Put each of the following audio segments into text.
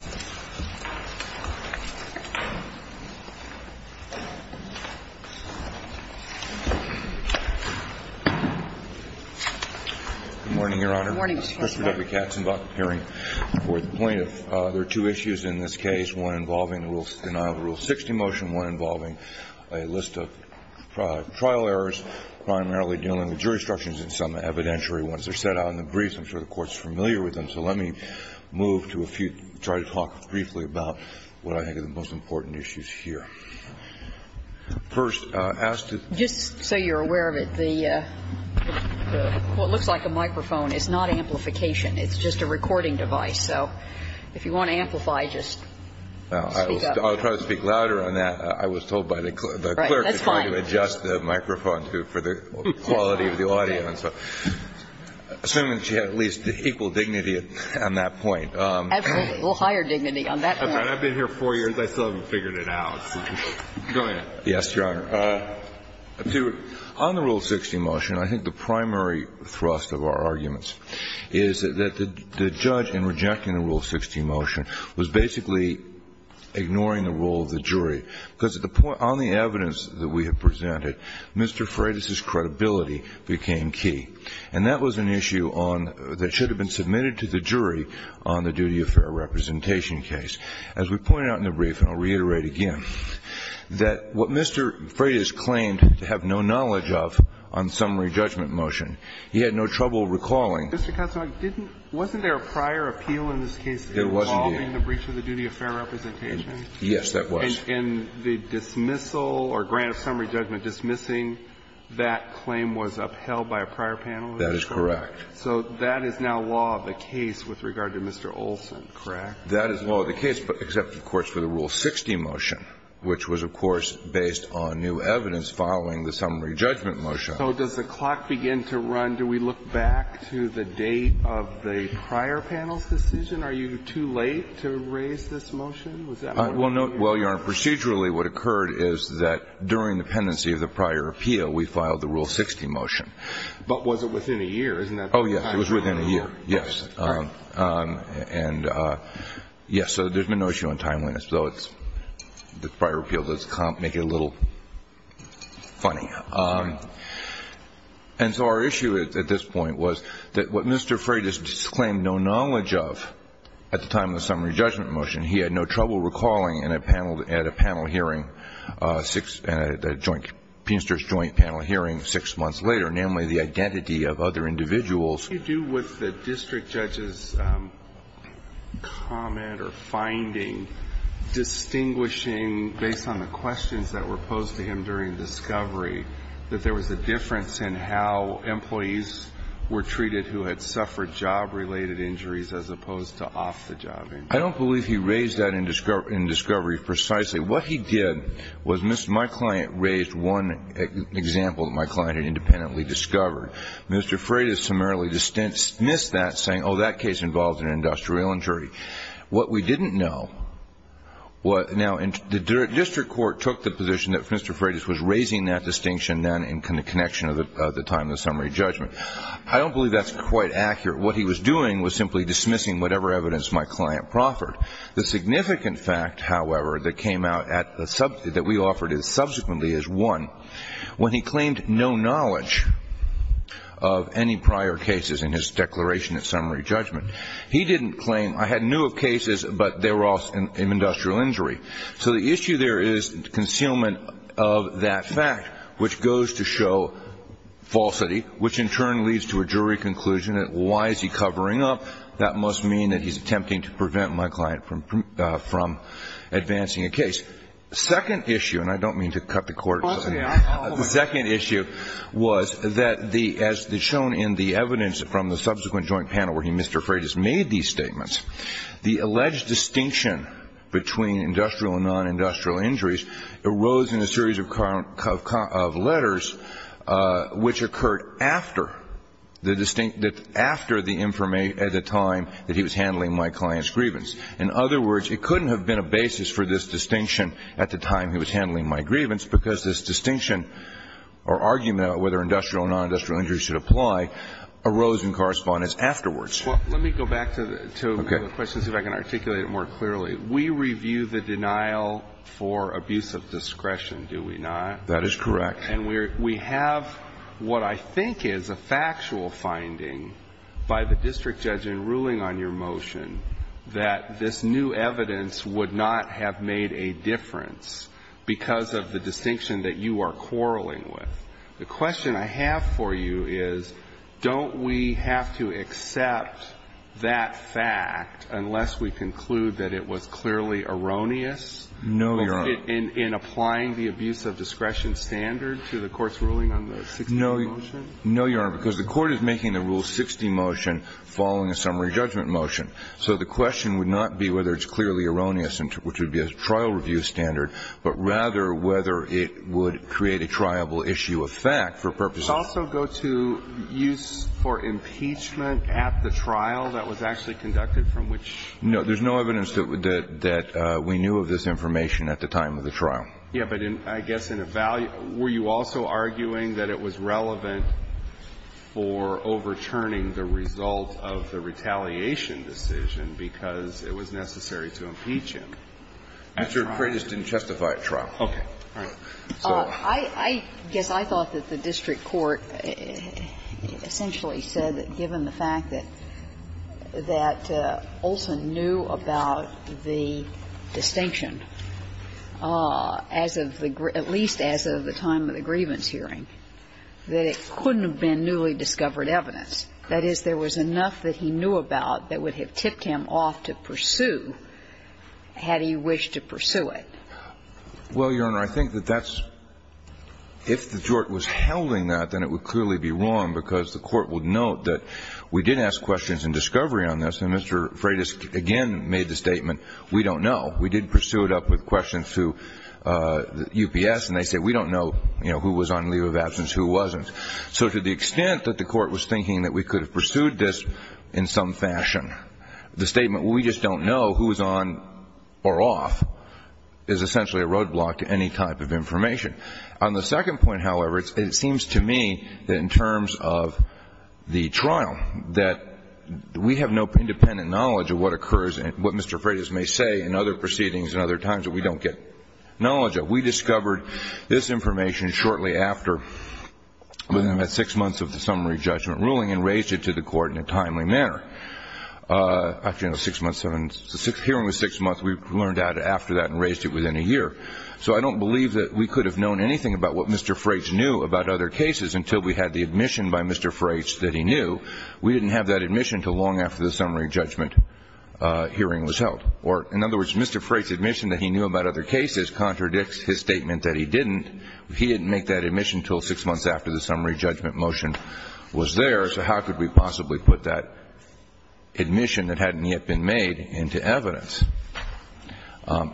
Good morning, Your Honor. Good morning, Justice Breyer. Mr. W. Katzenbach, appearing for the plaintiff. There are two issues in this case, one involving the denial of Rule 60 motion, one involving a list of trial errors primarily dealing with jury instructions and some evidentiary ones that are set out in the briefs. I'm sure the Court's familiar with them, so let me move to a few to try to talk briefly about what I think are the most important issues here. First, I'll ask to Just so you're aware of it, what looks like a microphone is not amplification. It's just a recording device, so if you want to amplify, just speak up. I'll try to speak louder on that. I was told by the clerk to try to adjust the microphone for the quality of the audio, and so assuming she had at least equal dignity on that point, Absolutely, a little higher dignity on that point. I've been here four years. I still haven't figured it out, so go ahead. Yes, Your Honor. On the Rule 60 motion, I think the primary thrust of our arguments is that the judge, in rejecting the Rule 60 motion, was basically ignoring the role of the jury, because on the evidence that we have presented, Mr. Freitas's credibility became key. And that was an issue that should have been submitted to the jury on the duty of fair representation case. As we pointed out in the brief, and I'll reiterate again, that what Mr. Freitas claimed to have no knowledge of on the summary judgment motion, he had no trouble recalling Mr. Cotswold, wasn't there a prior appeal in this case involving the breach of the duty of fair representation? Yes, there was. And in the dismissal or grant of summary judgment dismissing, that claim was upheld by a prior panel? That is correct. So that is now law of the case with regard to Mr. Olson, correct? That is law of the case, except, of course, for the Rule 60 motion, which was, of course, based on new evidence following the summary judgment motion. So does the clock begin to run? Do we look back to the date of the prior panel's Well, Your Honor, procedurally, what occurred is that during the pendency of the prior appeal, we filed the Rule 60 motion. But was it within a year? Oh, yes, it was within a year, yes. And yes, so there's been no issue on timeliness, though the prior appeal does make it a little funny. And so our issue at this point was that what Mr. Freitas claimed no knowledge of at the time of the summary judgment motion, he had no trouble recalling at a panel hearing, a Penisters joint panel hearing six months later, namely the identity of other individuals. What do you do with the district judge's comment or finding distinguishing, based on the questions that were posed to him during discovery, that there was a difference in how employees were treated who had suffered job-related injuries as opposed to off-the-job injuries? I don't believe he raised that in discovery precisely. What he did was my client raised one example that my client had independently discovered. Mr. Freitas summarily dismissed that, saying, oh, that case involved an industrial injury. What we didn't know – now, the district court took the position that Mr. Freitas was raising that distinction then in connection of the time of the summary judgment. I don't believe that's quite accurate. What he was doing was simply dismissing whatever evidence my client proffered. The significant fact, however, that came out at the – that we offered subsequently is one. When he claimed no knowledge of any prior cases in his declaration of summary judgment, he didn't claim – I knew of cases, but they were all in industrial injury. So the issue there is concealment of that fact, which goes to show falsity, which in turn leads to a jury conclusion that why is he covering up? That must mean that he's attempting to prevent my client from advancing a case. Second issue – and I don't mean to cut the court – the second issue was that the – as shown in the evidence from the subsequent joint panel where he and Mr. Freitas made these statements, the alleged distinction between industrial and non-industrial injuries arose in a series of letters which occurred after the distinct – after the information at the time that he was handling my client's grievance. In other words, it couldn't have been a basis for this distinction at the time he was handling my grievance because this distinction or argument about whether industrial or non-industrial injuries should apply arose in correspondence afterwards. Well, let me go back to the questions, if I can articulate it more clearly. We review the denial for abuse of discretion, do we not? That is correct. And we're – we have what I think is a factual finding by the district judge in ruling on your motion that this new evidence would not have made a difference because of the distinction that you are quarreling with. The question I have for you is, don't we have to accept that fact unless we conclude that it was clearly erroneous in applying the abuse of discretion standard to the Court's ruling on the 16th motion? No, Your Honor, because the Court is making the Rule 60 motion following a summary judgment motion. So the question would not be whether it's clearly erroneous, which would be a trial review standard, but rather whether it would create a triable issue of fact for purposes of the statute. Would this also go to use for impeachment at the trial that was actually conducted, from which you're referring? No. There's no evidence that we knew of this information at the time of the trial. Yeah, but in – I guess in a value – were you also arguing that it was relevant for overturning the result of the retaliation decision because it was necessary to impeach him at trial? Mr. McRae just didn't testify at trial. Okay. All right. I guess I thought that the district court essentially said that given the fact that Olson knew about the distinction as of the – at least as of the time of the grievance hearing, that it couldn't have been newly discovered evidence. That is, there was enough that he knew about that would have tipped him off to pursue had he wished to pursue it. Well, Your Honor, I think that that's – if the court was helding that, then it would clearly be wrong because the court would note that we did ask questions in discovery on this, and Mr. Freitas again made the statement, we don't know. We did pursue it up with questions to UPS, and they said, we don't know, you know, who was on leave of absence, who wasn't. So to the extent that the court was thinking that we could have pursued this in some is essentially a roadblock to any type of information. On the second point, however, it seems to me that in terms of the trial, that we have no independent knowledge of what occurs and what Mr. Freitas may say in other proceedings and other times that we don't get knowledge of. We discovered this information shortly after, within about six months of the summary judgment ruling and raised it to the court in a timely manner. Actually, you know, six months – the hearing was six months. We learned that after that and raised it within a year. So I don't believe that we could have known anything about what Mr. Freitas knew about other cases until we had the admission by Mr. Freitas that he knew. We didn't have that admission until long after the summary judgment hearing was held. Or, in other words, Mr. Freitas' admission that he knew about other cases contradicts his statement that he didn't. He didn't make that admission until six months after the summary judgment motion was there, so how could we possibly put that admission that hadn't yet been made into evidence?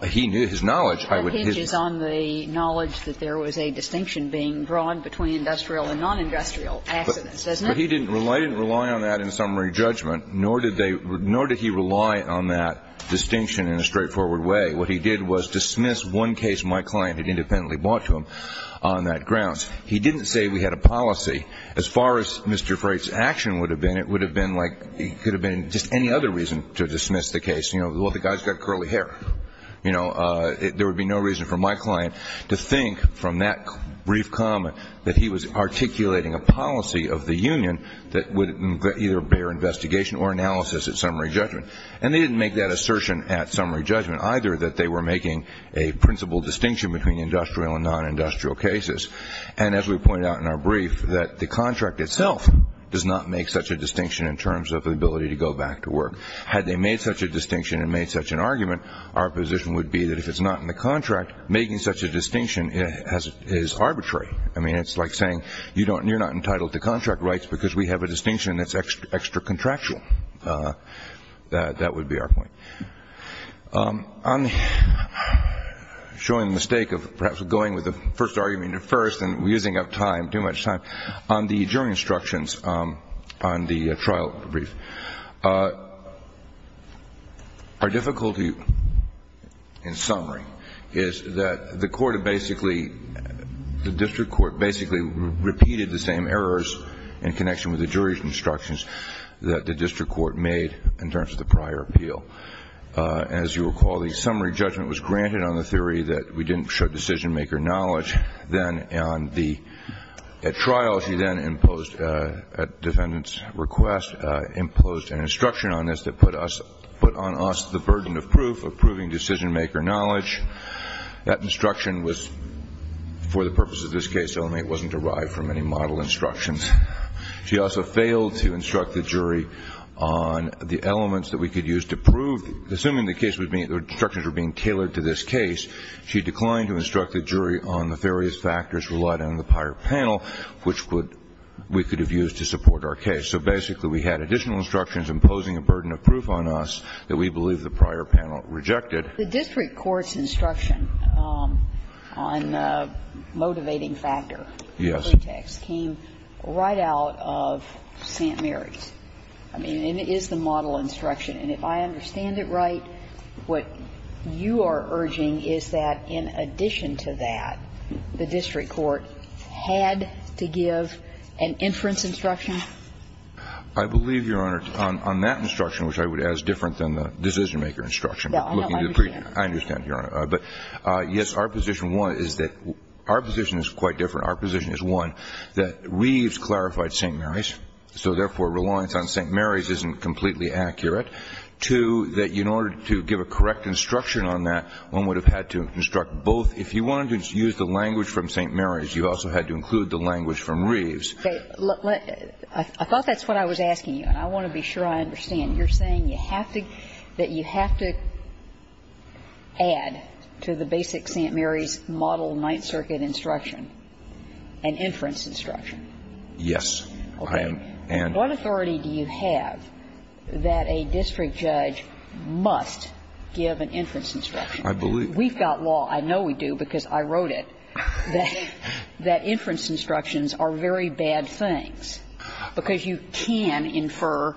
He knew his knowledge. I would – his – That hinges on the knowledge that there was a distinction being drawn between industrial and non-industrial accidents, doesn't it? But he didn't rely on that in summary judgment, nor did they – nor did he rely on that distinction in a straightforward way. What he did was dismiss one case my client had independently brought to him on that grounds. He didn't say we had a policy. As far as Mr. Freitas' action would have been, it would have been like – it could have been just any other reason to dismiss the case. You know, well, the guy's got curly hair. You know, there would be no reason for my client to think from that brief comment that he was articulating a policy of the union that would either bear investigation or analysis at summary judgment. And they didn't make that assertion at summary judgment, either, that they were making a principal distinction between industrial and non-industrial cases. And as we pointed out in our brief, that the contract itself does not make such a distinction in terms of the ability to go back to work. Had they made such a distinction and made such an argument, our position would be that if it's not in the contract, making such a distinction is arbitrary. I mean, it's like saying you don't – you're not entitled to contract rights because we have a distinction that's extra contractual. That would be our point. On the – showing the mistake of perhaps going with the first argument at first and using up time, too much time, on the jury instructions on the trial brief. Our difficulty in summary is that the court basically – the district court basically repeated the same errors in connection with the jury's instructions that the district court made in terms of the prior appeal. As you recall, the summary judgment was granted on the theory that we didn't show decision-maker knowledge. Then on the – at trial, she then imposed – at defendant's request, imposed an instruction on us that put us – put on us the burden of proof, of proving decision-maker knowledge. That instruction was for the purpose of this case only. It wasn't derived from any model instructions. She also failed to instruct the jury on the elements that we could use to prove – assuming the case was being – the instructions were being tailored to this case, she declined to instruct the jury on the various factors relied on in the prior panel, which would – we could have used to support our case. So basically, we had additional instructions imposing a burden of proof on us that we believe the prior panel rejected. The district court's instruction on the motivating factor pretext came right out of St. Mary's. I mean, it is the model instruction, and if I understand it right, what you are urging is that in addition to that, the district court had to give an inference instruction? I believe, Your Honor, on that instruction, which I would add is different than the decision-maker instruction. No, I understand. I understand, Your Honor. But, yes, our position one is that – our position is quite different. Our position is, one, that Reeves clarified St. Mary's, so therefore, reliance on St. Mary's isn't completely accurate. Two, that in order to give a correct instruction on that, one would have had to instruct both. If you wanted to use the language from St. Mary's, you also had to include the language from Reeves. Okay. I thought that's what I was asking you, and I want to be sure I understand. You're saying you have to – that you have to add to the basic St. Mary's model Ninth Circuit instruction an inference instruction? Yes. I am. What authority do you have that a district judge must give an inference instruction? I believe – We've got law – I know we do because I wrote it – that inference instructions are very bad things, because you can infer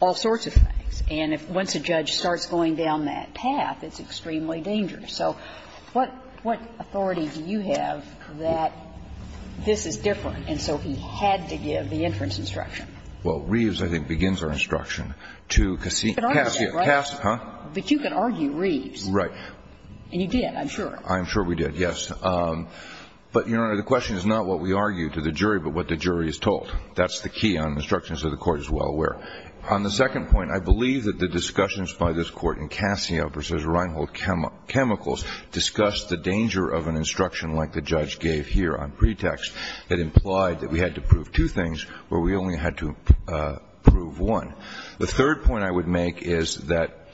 all sorts of things. And if – once a judge starts going down that path, it's extremely dangerous. So what – what authority do you have that this is different, and so he had to give the inference instruction? Well, Reeves, I think, begins our instruction to Cassio – Cassio – But you can argue Reeves. Right. And you did, I'm sure. I'm sure we did, yes. But, Your Honor, the question is not what we argue to the jury, but what the jury is told. That's the key on instructions that the Court is well aware. On the second point, I believe that the discussions by this Court in Cassio v. Reinhold Chemicals discussed the danger of an instruction like the judge gave here on pretext that implied that we had to prove two things, where we only had to prove one. The third point I would make is that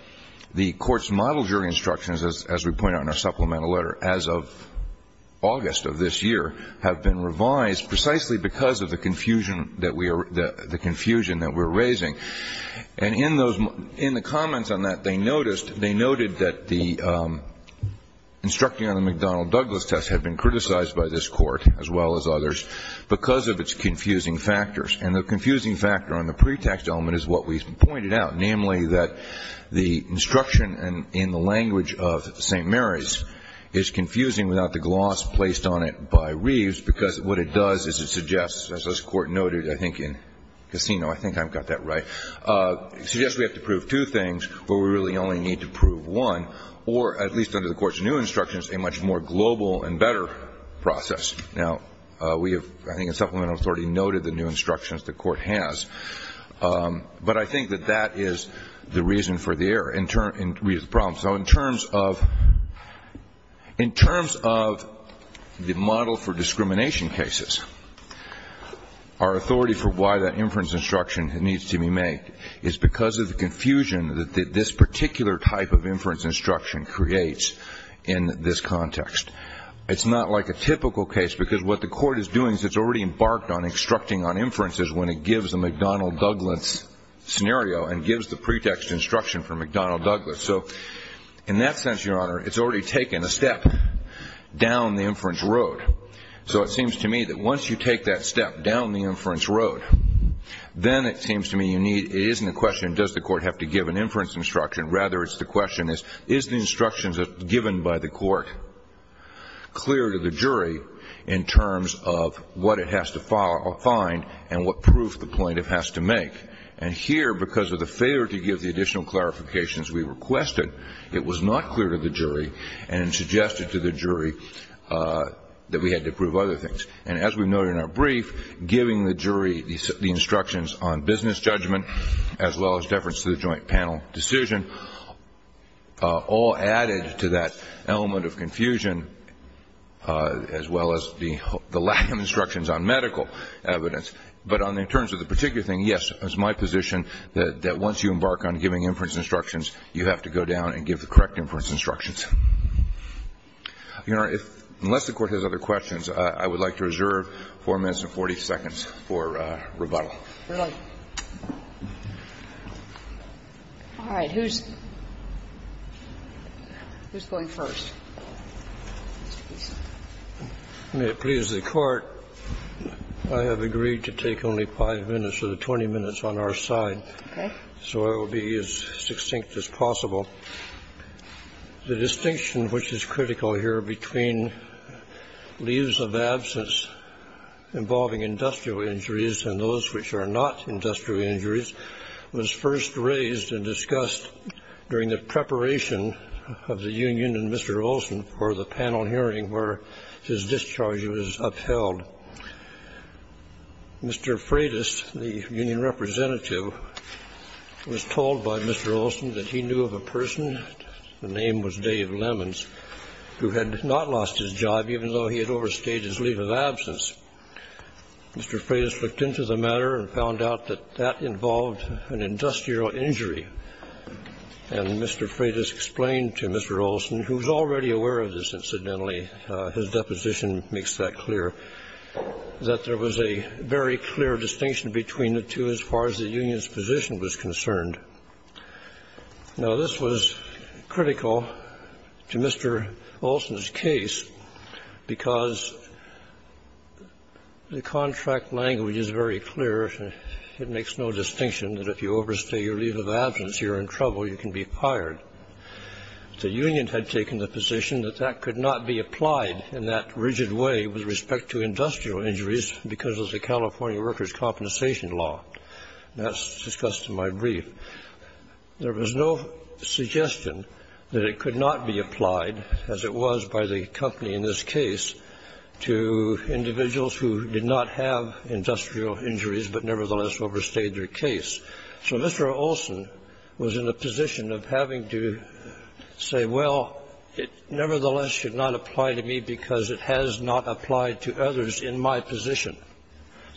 the Court's model jury instructions, as we point out in our supplemental letter, as of August of this year, have been revised precisely because of the confusion that we are – the confusion that we're raising. And in those – in the comments on that, they noticed – they noted that the instructing on the McDonnell-Douglas test had been criticized by this Court, as well as others, because of its confusing factors. And the confusing factor on the pretext element is what we've pointed out, namely, that the instruction in the language of St. Mary's is confusing without the gloss placed on it by Reeves, because what it does is it suggests, as this Court noted, I think, in Cassino – I think I've got that right – it suggests we have to prove two things, where we really only need to prove one, or, at least under the Court's new instructions, a much more global and better process. Now, we have, I think, in supplemental authority, noted the new instructions the Court has. But I think that that is the reason for the error in terms – in Reeves' problem. So in terms of – in terms of the model for discrimination cases, our authority for why that inference instruction needs to be made is because of the confusion that this particular type of inference instruction creates in this context. It's not like a typical case, because what the Court is doing is it's already embarked on instructing on inferences when it gives a McDonnell-Douglas scenario and gives the pretext instruction for McDonnell-Douglas. So in that sense, Your Honor, it's already taken a step down the inference road. So it seems to me that once you take that step down the inference road, then it seems to me you need – it isn't a question, does the Court have to give an inference instruction? Rather, it's the question is, is the instructions given by the Court clear to the jury in terms of what it has to find and what proof the plaintiff has to make? And here, because of the failure to give the additional clarifications we requested, it was not clear to the jury and suggested to the jury that we had to prove other things. And as we noted in our brief, giving the jury the instructions on business judgment as well as deference to the joint panel decision all added to that element of confusion, as well as the lack of instructions on medical evidence. But in terms of the particular thing, yes, it's my position that once you embark on giving inference instructions, you have to go down and give the correct inference instructions. Your Honor, unless the Court has other questions, I would like to reserve 4 minutes and 40 seconds for rebuttal. We're done. All right. Who's going first? May it please the Court, I have agreed to take only 5 minutes of the 20 minutes on our side, so I will be as succinct as possible. The distinction which is critical here between leaves of absence involving industrial injuries and those which are not industrial injuries was first raised and discussed during the preparation of the union and Mr. Olson for the panel hearing where his discharge was upheld. Mr. Freitas, the union representative, was told by Mr. Olson that he knew of a person, the name was Dave Lemons, who had not lost his job even though he had overstayed his leave of absence. Mr. Freitas looked into the matter and found out that that involved an industrial injury, and Mr. Freitas explained to Mr. Olson, who was already aware of this, incidentally his deposition makes that clear, that there was a very clear distinction between the two as far as the union's position was concerned. Now, this was critical to Mr. Olson's case because the contract language is very clear, it makes no distinction that if you overstay your leave of absence, you're in trouble, you can be fired. The union had taken the position that that could not be applied in that rigid way with respect to industrial injuries because of the California workers' compensation law. And that's discussed in my brief. There was no suggestion that it could not be applied, as it was by the company in this case, to individuals who did not have industrial injuries but nevertheless overstayed their case. So Mr. Olson was in a position of having to say, well, it nevertheless should not apply to me because it has not applied to others in my position.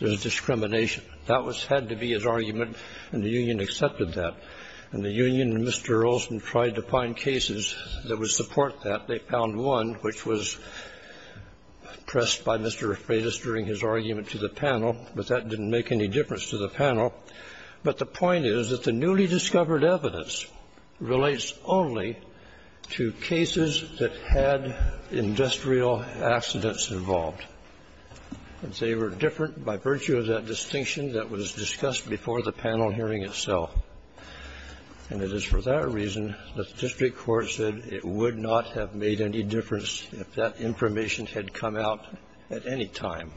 There's discrimination. That had to be his argument, and the union accepted that. And the union and Mr. Olson tried to find cases that would support that. They found one which was pressed by Mr. Freitas during his argument to the panel, but that didn't make any difference to the panel. But the point is that the newly discovered evidence relates only to cases that had industrial accidents involved. And they were different by virtue of that distinction that was discussed before the panel hearing itself. And it is for that reason that the district court said it would not have made any difference if that information had come out at any time,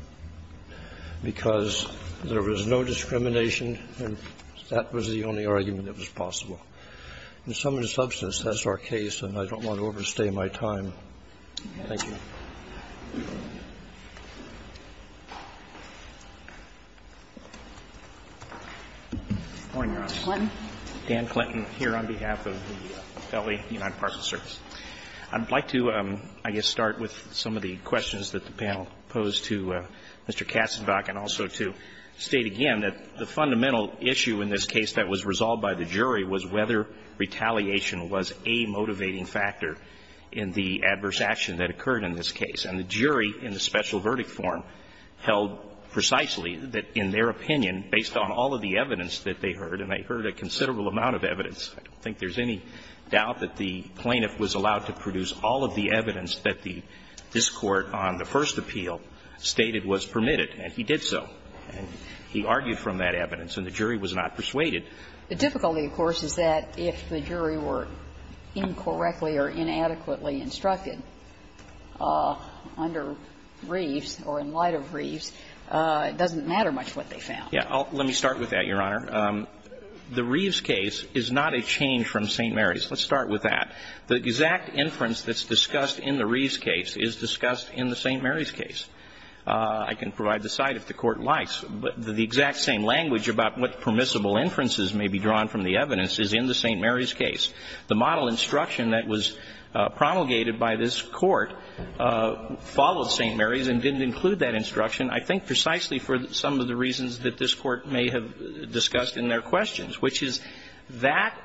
because there was no discrimination and that was the only argument that was possible. In sum and substance, that's our case, and I don't want to overstay my time. Thank you. Good morning, Your Honor. Clinton. Dan Clinton here on behalf of the Felony United Parcel Service. I'd like to, I guess, start with some of the questions that the panel posed to Mr. Katzenbach and also to state again that the fundamental issue in this case that was resolved by the jury was whether retaliation was a motivating factor in the adverse action that occurred in this case. And the jury in the special verdict form held precisely that in their opinion, based on all of the evidence that they heard, and they heard a considerable amount of evidence, I don't think there's any doubt that the plaintiff was allowed to produce all of the evidence that this Court on the first appeal stated was permitted, and he did so. He argued from that evidence, and the jury was not persuaded. The difficulty, of course, is that if the jury were incorrectly or inadequately instructed under Reeves or in light of Reeves, it doesn't matter much what they found. Yeah. Let me start with that, Your Honor. The Reeves case is not a change from St. Mary's. Let's start with that. The exact inference that's discussed in the Reeves case is discussed in the St. Mary's case. I can provide the cite if the Court likes, but the exact same language about what permissible inferences may be drawn from the evidence is in the St. Mary's case. The model instruction that was promulgated by this Court followed St. Mary's and didn't include that instruction, I think precisely for some of the reasons that this Court may have discussed in their questions, which is that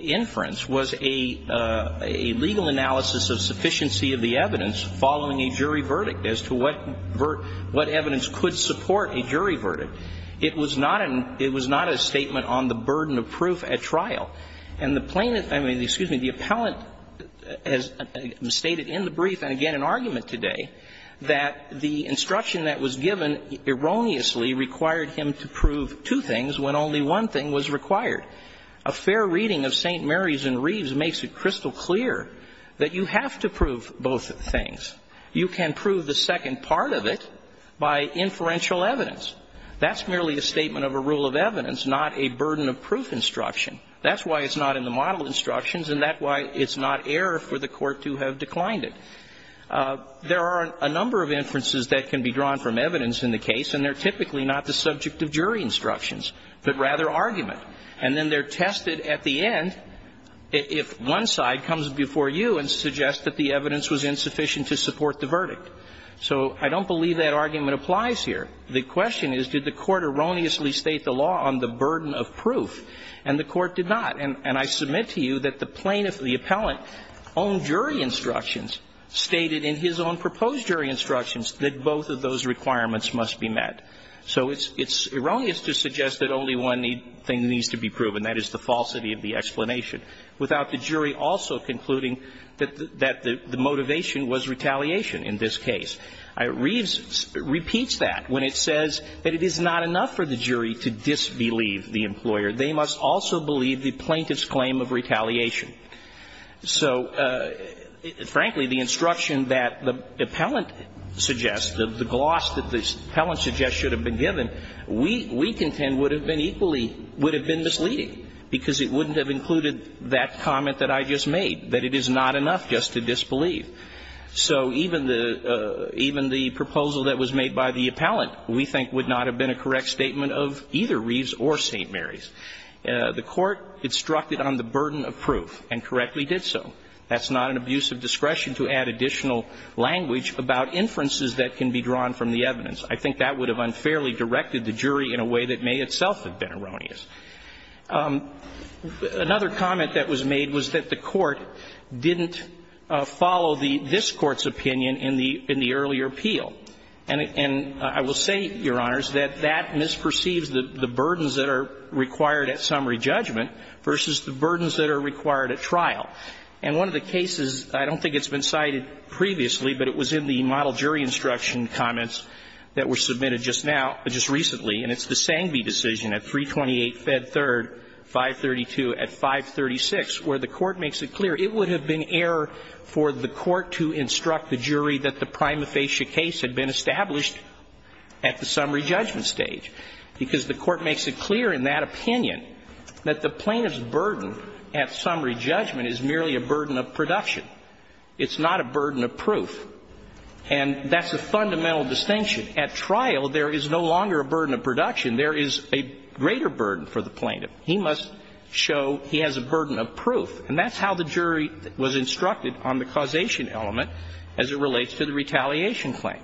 inference was a legal analysis of sufficiency of the evidence following a jury verdict as to what evidence could support a jury verdict. It was not a statement on the burden of proof at trial. And the plaintiff – I mean, excuse me, the appellant has stated in the brief and again in argument today that the instruction that was given erroneously required him to prove two things when only one thing was required. A fair reading of St. Mary's and Reeves makes it crystal clear that you have to prove both things. You can prove the second part of it by inferential evidence. That's merely a statement of a rule of evidence, not a burden of proof instruction. That's why it's not in the model instructions, and that's why it's not error for the Court to have declined it. There are a number of inferences that can be drawn from evidence in the case, and they're typically not the subject of jury instructions, but rather argument. And then they're tested at the end if one side comes before you and suggests that the evidence was insufficient to support the verdict. So I don't believe that argument applies here. The question is, did the Court erroneously state the law on the burden of proof? And the Court did not. And I submit to you that the plaintiff, the appellant, on jury instructions stated in his own proposed jury instructions that both of those requirements must be met. So it's erroneous to suggest that only one thing needs to be proven, and that is the falsity of the explanation, without the jury also concluding that the motivation was retaliation in this case. Reeves repeats that when it says that it is not enough for the jury to disbelieve the employer. They must also believe the plaintiff's claim of retaliation. So, frankly, the instruction that the appellant suggests, the gloss that the appellant suggests should have been given, we contend would have been equally, would have been misleading, because it wouldn't have included that comment that I just made, that it is not enough just to disbelieve. So even the proposal that was made by the appellant, we think, would not have been a correct statement of either Reeves or St. Mary's. The Court instructed on the burden of proof, and correctly did so. That's not an abuse of discretion to add additional language about inferences that can be drawn from the evidence. I think that would have unfairly directed the jury in a way that may itself have been erroneous. Another comment that was made was that the Court didn't follow the this Court's opinion in the earlier appeal. And I will say, Your Honors, that that misperceives the burdens that are required at summary judgment versus the burdens that are required at trial. And one of the cases, I don't think it's been cited previously, but it was in the model jury instruction comments that were submitted just now, just recently, and it's the Sangbee decision at 328 Fed 3rd, 532 at 536, where the Court makes it clear it would have been error for the Court to instruct the jury that the prima facie case had been established at the summary judgment stage, because the Court makes it clear in that opinion that the plaintiff's burden at summary judgment is merely a burden of production. It's not a burden of proof. And that's a fundamental distinction. At trial, there is no longer a burden of production. There is a greater burden for the plaintiff. He must show he has a burden of proof. And that's how the jury was instructed on the causation element as it relates to the retaliation claim.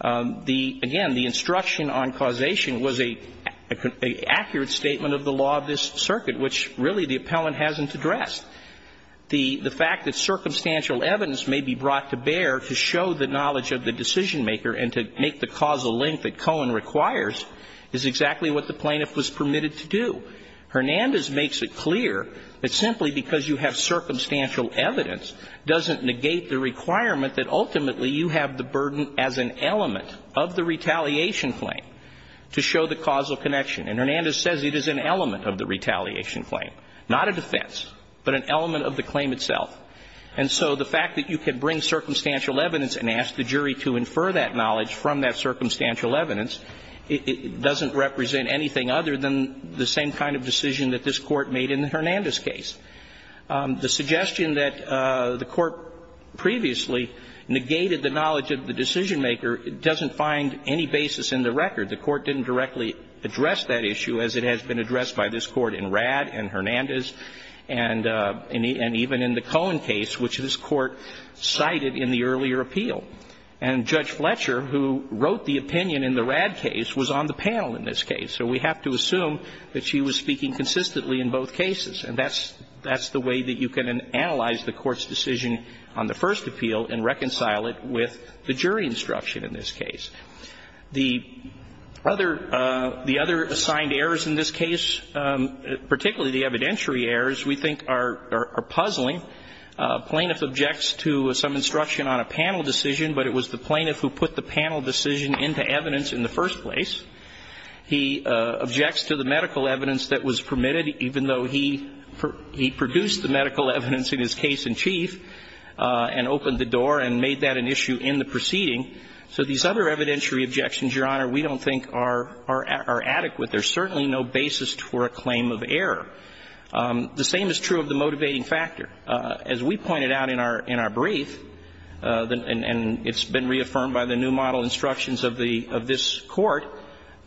The, again, the instruction on causation was an accurate statement of the law of this circuit, which, really, the appellant hasn't addressed. The fact that circumstantial evidence may be brought to bear to show the knowledge of the decisionmaker and to make the causal link that Cohen requires is exactly what the plaintiff was permitted to do. Hernandez makes it clear that simply because you have circumstantial evidence doesn't negate the requirement that ultimately you have the burden as an element of the retaliation claim to show the causal connection. And Hernandez says it is an element of the retaliation claim, not a defense, but an element of the claim itself. And so the fact that you can bring circumstantial evidence and ask the jury to infer that knowledge from that circumstantial evidence, it doesn't represent anything other than the same kind of decision that this Court made in Hernandez's case. The suggestion that the Court previously negated the knowledge of the decisionmaker doesn't find any basis in the record. The Court didn't directly address that issue as it has been addressed by this Court in Radd and Hernandez and even in the Cohen case, which this Court cited in the earlier appeal. And Judge Fletcher, who wrote the opinion in the Radd case, was on the panel in this case. So we have to assume that she was speaking consistently in both cases. And that's the way that you can analyze the Court's decision on the first appeal and reconcile it with the jury instruction in this case. The other assigned errors in this case, particularly the evidentiary errors, we think are puzzling. Plaintiff objects to some instruction on a panel decision, but it was the plaintiff who put the panel decision into evidence in the first place. He objects to the medical evidence that was permitted, even though he produced the medical evidence in his case in chief and opened the door and made that an issue in the proceeding. So these other evidentiary objections, Your Honor, we don't think are adequate. There's certainly no basis for a claim of error. The same is true of the motivating factor. As we pointed out in our brief, and it's been reaffirmed by the new model instructions of this Court,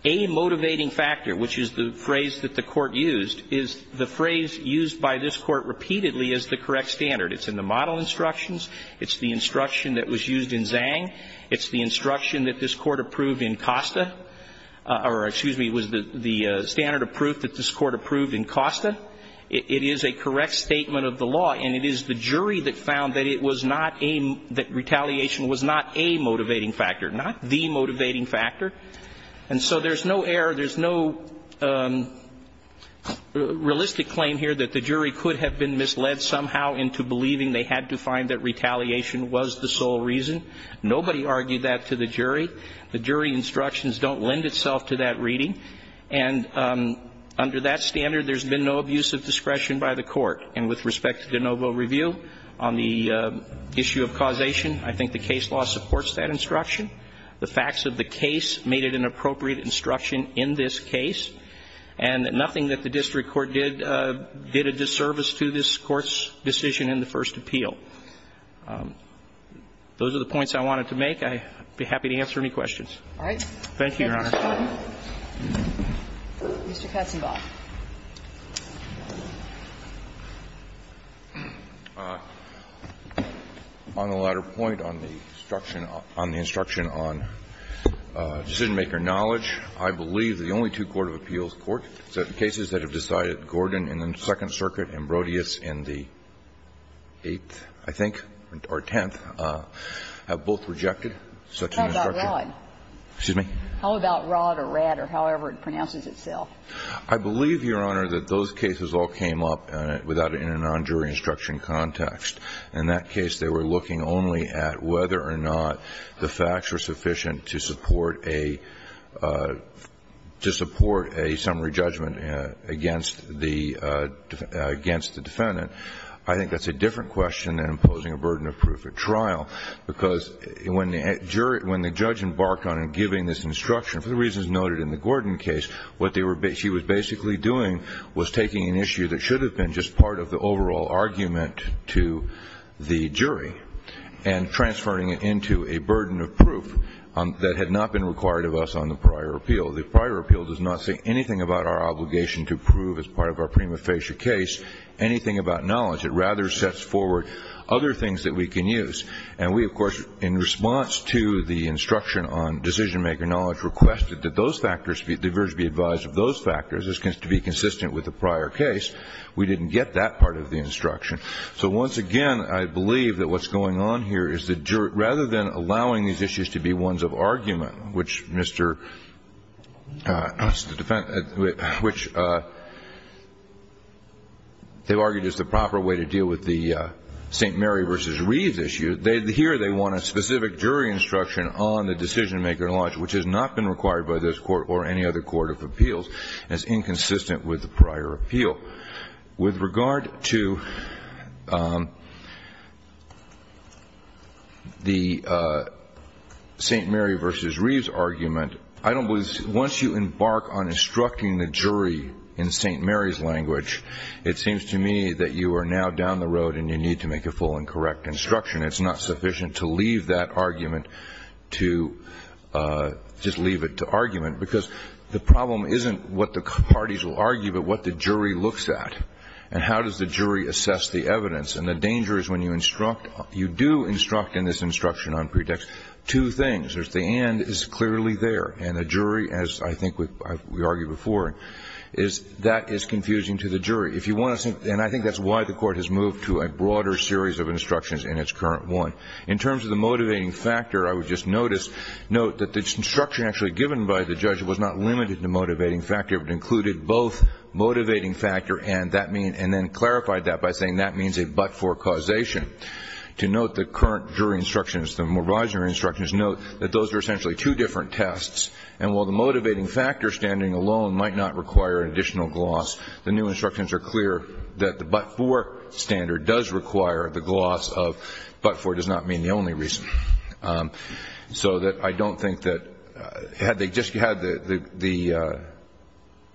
a motivating factor, which is the phrase that the Court used, is the phrase used by this Court repeatedly as the correct standard. It's in the model instructions. It's the instruction that was used in Zhang. It's the instruction that this Court approved in Costa, or excuse me, was the standard of proof that this Court approved in Costa. It is a correct statement of the law, and it is the jury that found that it was not a, that retaliation was not a motivating factor, not the motivating factor. And so there's no error, there's no realistic claim here that the jury could have been misled somehow into believing they had to find that retaliation was the sole reason. Nobody argued that to the jury. The jury instructions don't lend itself to that reading. And under that standard, there's been no abuse of discretion by the Court. And with respect to de novo review on the issue of causation, I think the case law supports that instruction. The facts of the case made it an appropriate instruction in this case, and nothing that the district court did did a disservice to this Court's decision in the first appeal. Those are the points I wanted to make. Thank you, Your Honor. Mr. Katzenbach. On the latter point, on the instruction on decision-maker knowledge, I believe the only two court of appeals, court cases that have decided Gordon in the Second Circuit and Brodius in the 8th, I think, or 10th, have both rejected such an instruction. How about Rod? Excuse me? How about Rod or Rad or however it pronounces itself? I believe, Your Honor, that those cases all came up without a non-jury instruction context. In that case, they were looking only at whether or not the facts were sufficient to support a summary judgment against the defendant. I think that's a different question than imposing a burden of proof at trial, because when the judge embarked on giving this instruction, for the reasons noted in the Gordon case, what she was basically doing was taking an issue that should have been just part of the overall argument to the jury and transferring it into a burden of proof that had not been required of us on the prior appeal. The prior appeal does not say anything about our obligation to prove as part of our prima facie case anything about knowledge. It rather sets forward other things that we can use. And we, of course, in response to the instruction on decision-maker knowledge, requested that those factors, the jurors be advised of those factors to be consistent with the prior case. We didn't get that part of the instruction. So once again, I believe that what's going on here is that rather than allowing these issues to be ones of argument, which they argued is the proper way to deal with the St. Mary v. Reeves issue, here they want a specific jury instruction on the decision-maker knowledge, which has not been required by this Court or any other court of appeals, and is inconsistent with the prior appeal. With regard to the St. Mary v. Reeves argument, I don't believe once you embark on instructing the jury in St. Mary's language, it seems to me that you are now down the road and you need to make a full and correct instruction. It's not sufficient to leave that argument to just leave it to argument, because the problem isn't what the parties will argue, but what the jury looks at. And how does the jury assess the evidence? And the danger is when you instruct, you do instruct in this instruction on pretext two things. There's the and is clearly there. And the jury, as I think we argued before, is that is confusing to the jury. And I think that's why the Court has moved to a broader series of instructions in its current one. In terms of the motivating factor, I would just note that the instruction actually given by the judge was not limited to motivating factor. It included both motivating factor and that mean, and then clarified that by saying that means a but-for causation. To note the current jury instructions, the moratorium instructions, note that those are essentially two different tests. And while the motivating factor standing alone might not require an additional gloss, the new instructions are clear that the but-for standard does require the gloss of but-for does not mean the only reason. So that I don't think that had they just had the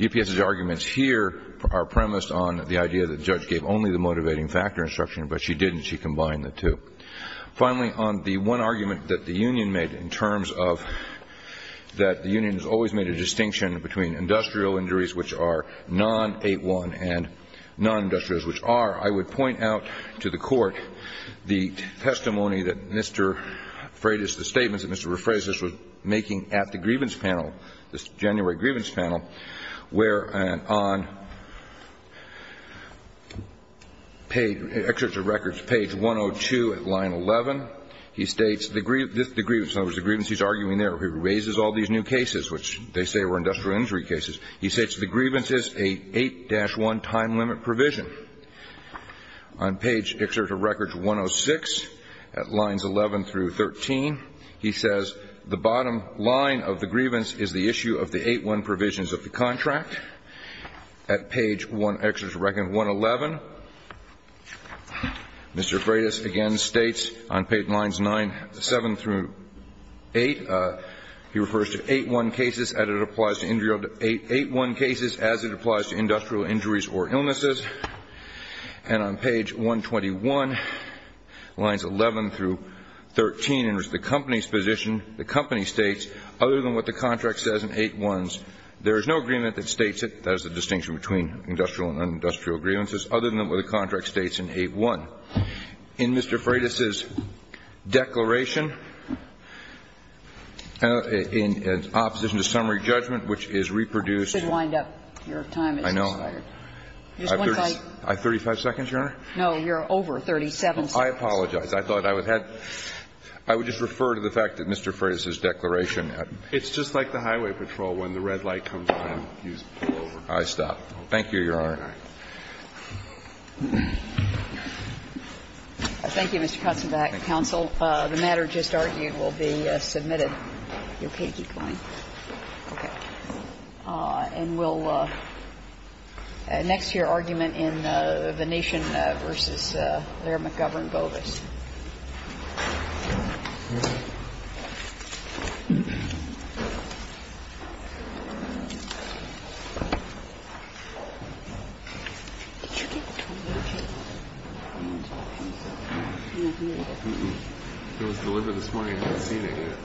UPS's arguments here are premised on the idea that the judge gave only the motivating factor instruction, but she didn't, she combined the two. Finally, on the one argument that the union made in terms of that the union has always made a distinction between industrial injuries, which are non-8-1 and non-industrials, which are, I would point out to the Court the testimony that Mr. Freitas, the statements that Mr. Freitas was making at the grievance panel, this January grievance panel, where on page, excerpt of records, page 102 at line 11, he states the grievance, in other words, the grievance he's arguing there, he raises all these new cases, which they say were industrial injury cases, he states the grievance is a 8-1 time limit provision. On page, excerpt of records, 106 at lines 11 through 13, he says the bottom line of the grievance is the issue of the 8-1 provisions of the contract. At page 1, excerpt of records, 111, Mr. Freitas again states on page lines 9, 7 through 8, he refers to 8-1 cases as it applies to industrial, 8-1 cases as it applies to industrial injuries or illnesses. And on page 121, lines 11 through 13, and it's the company's position, the company states, other than what the contract says in 8-1s, there is no agreement that states it, that is the distinction between industrial and non-industrial grievances, other than what the contract states in 8-1. In Mr. Freitas's declaration, in opposition to summary judgment, which is reproduced You should wind up, your time is expired. I know. I have 35 seconds, Your Honor? No, you're over 37 seconds. I apologize. I thought I would have to just refer to the fact that Mr. Freitas's declaration It's just like the highway patrol, when the red light comes on, you pull over. I stop. Thank you, Your Honor. Thank you, Mr. Katsenbach. Counsel, the matter just argued will be submitted. You're okay to keep going? Okay. And we'll next hear argument in Venetian v. Laird McGovern Bovis. It was delivered this morning, I hadn't seen it yet.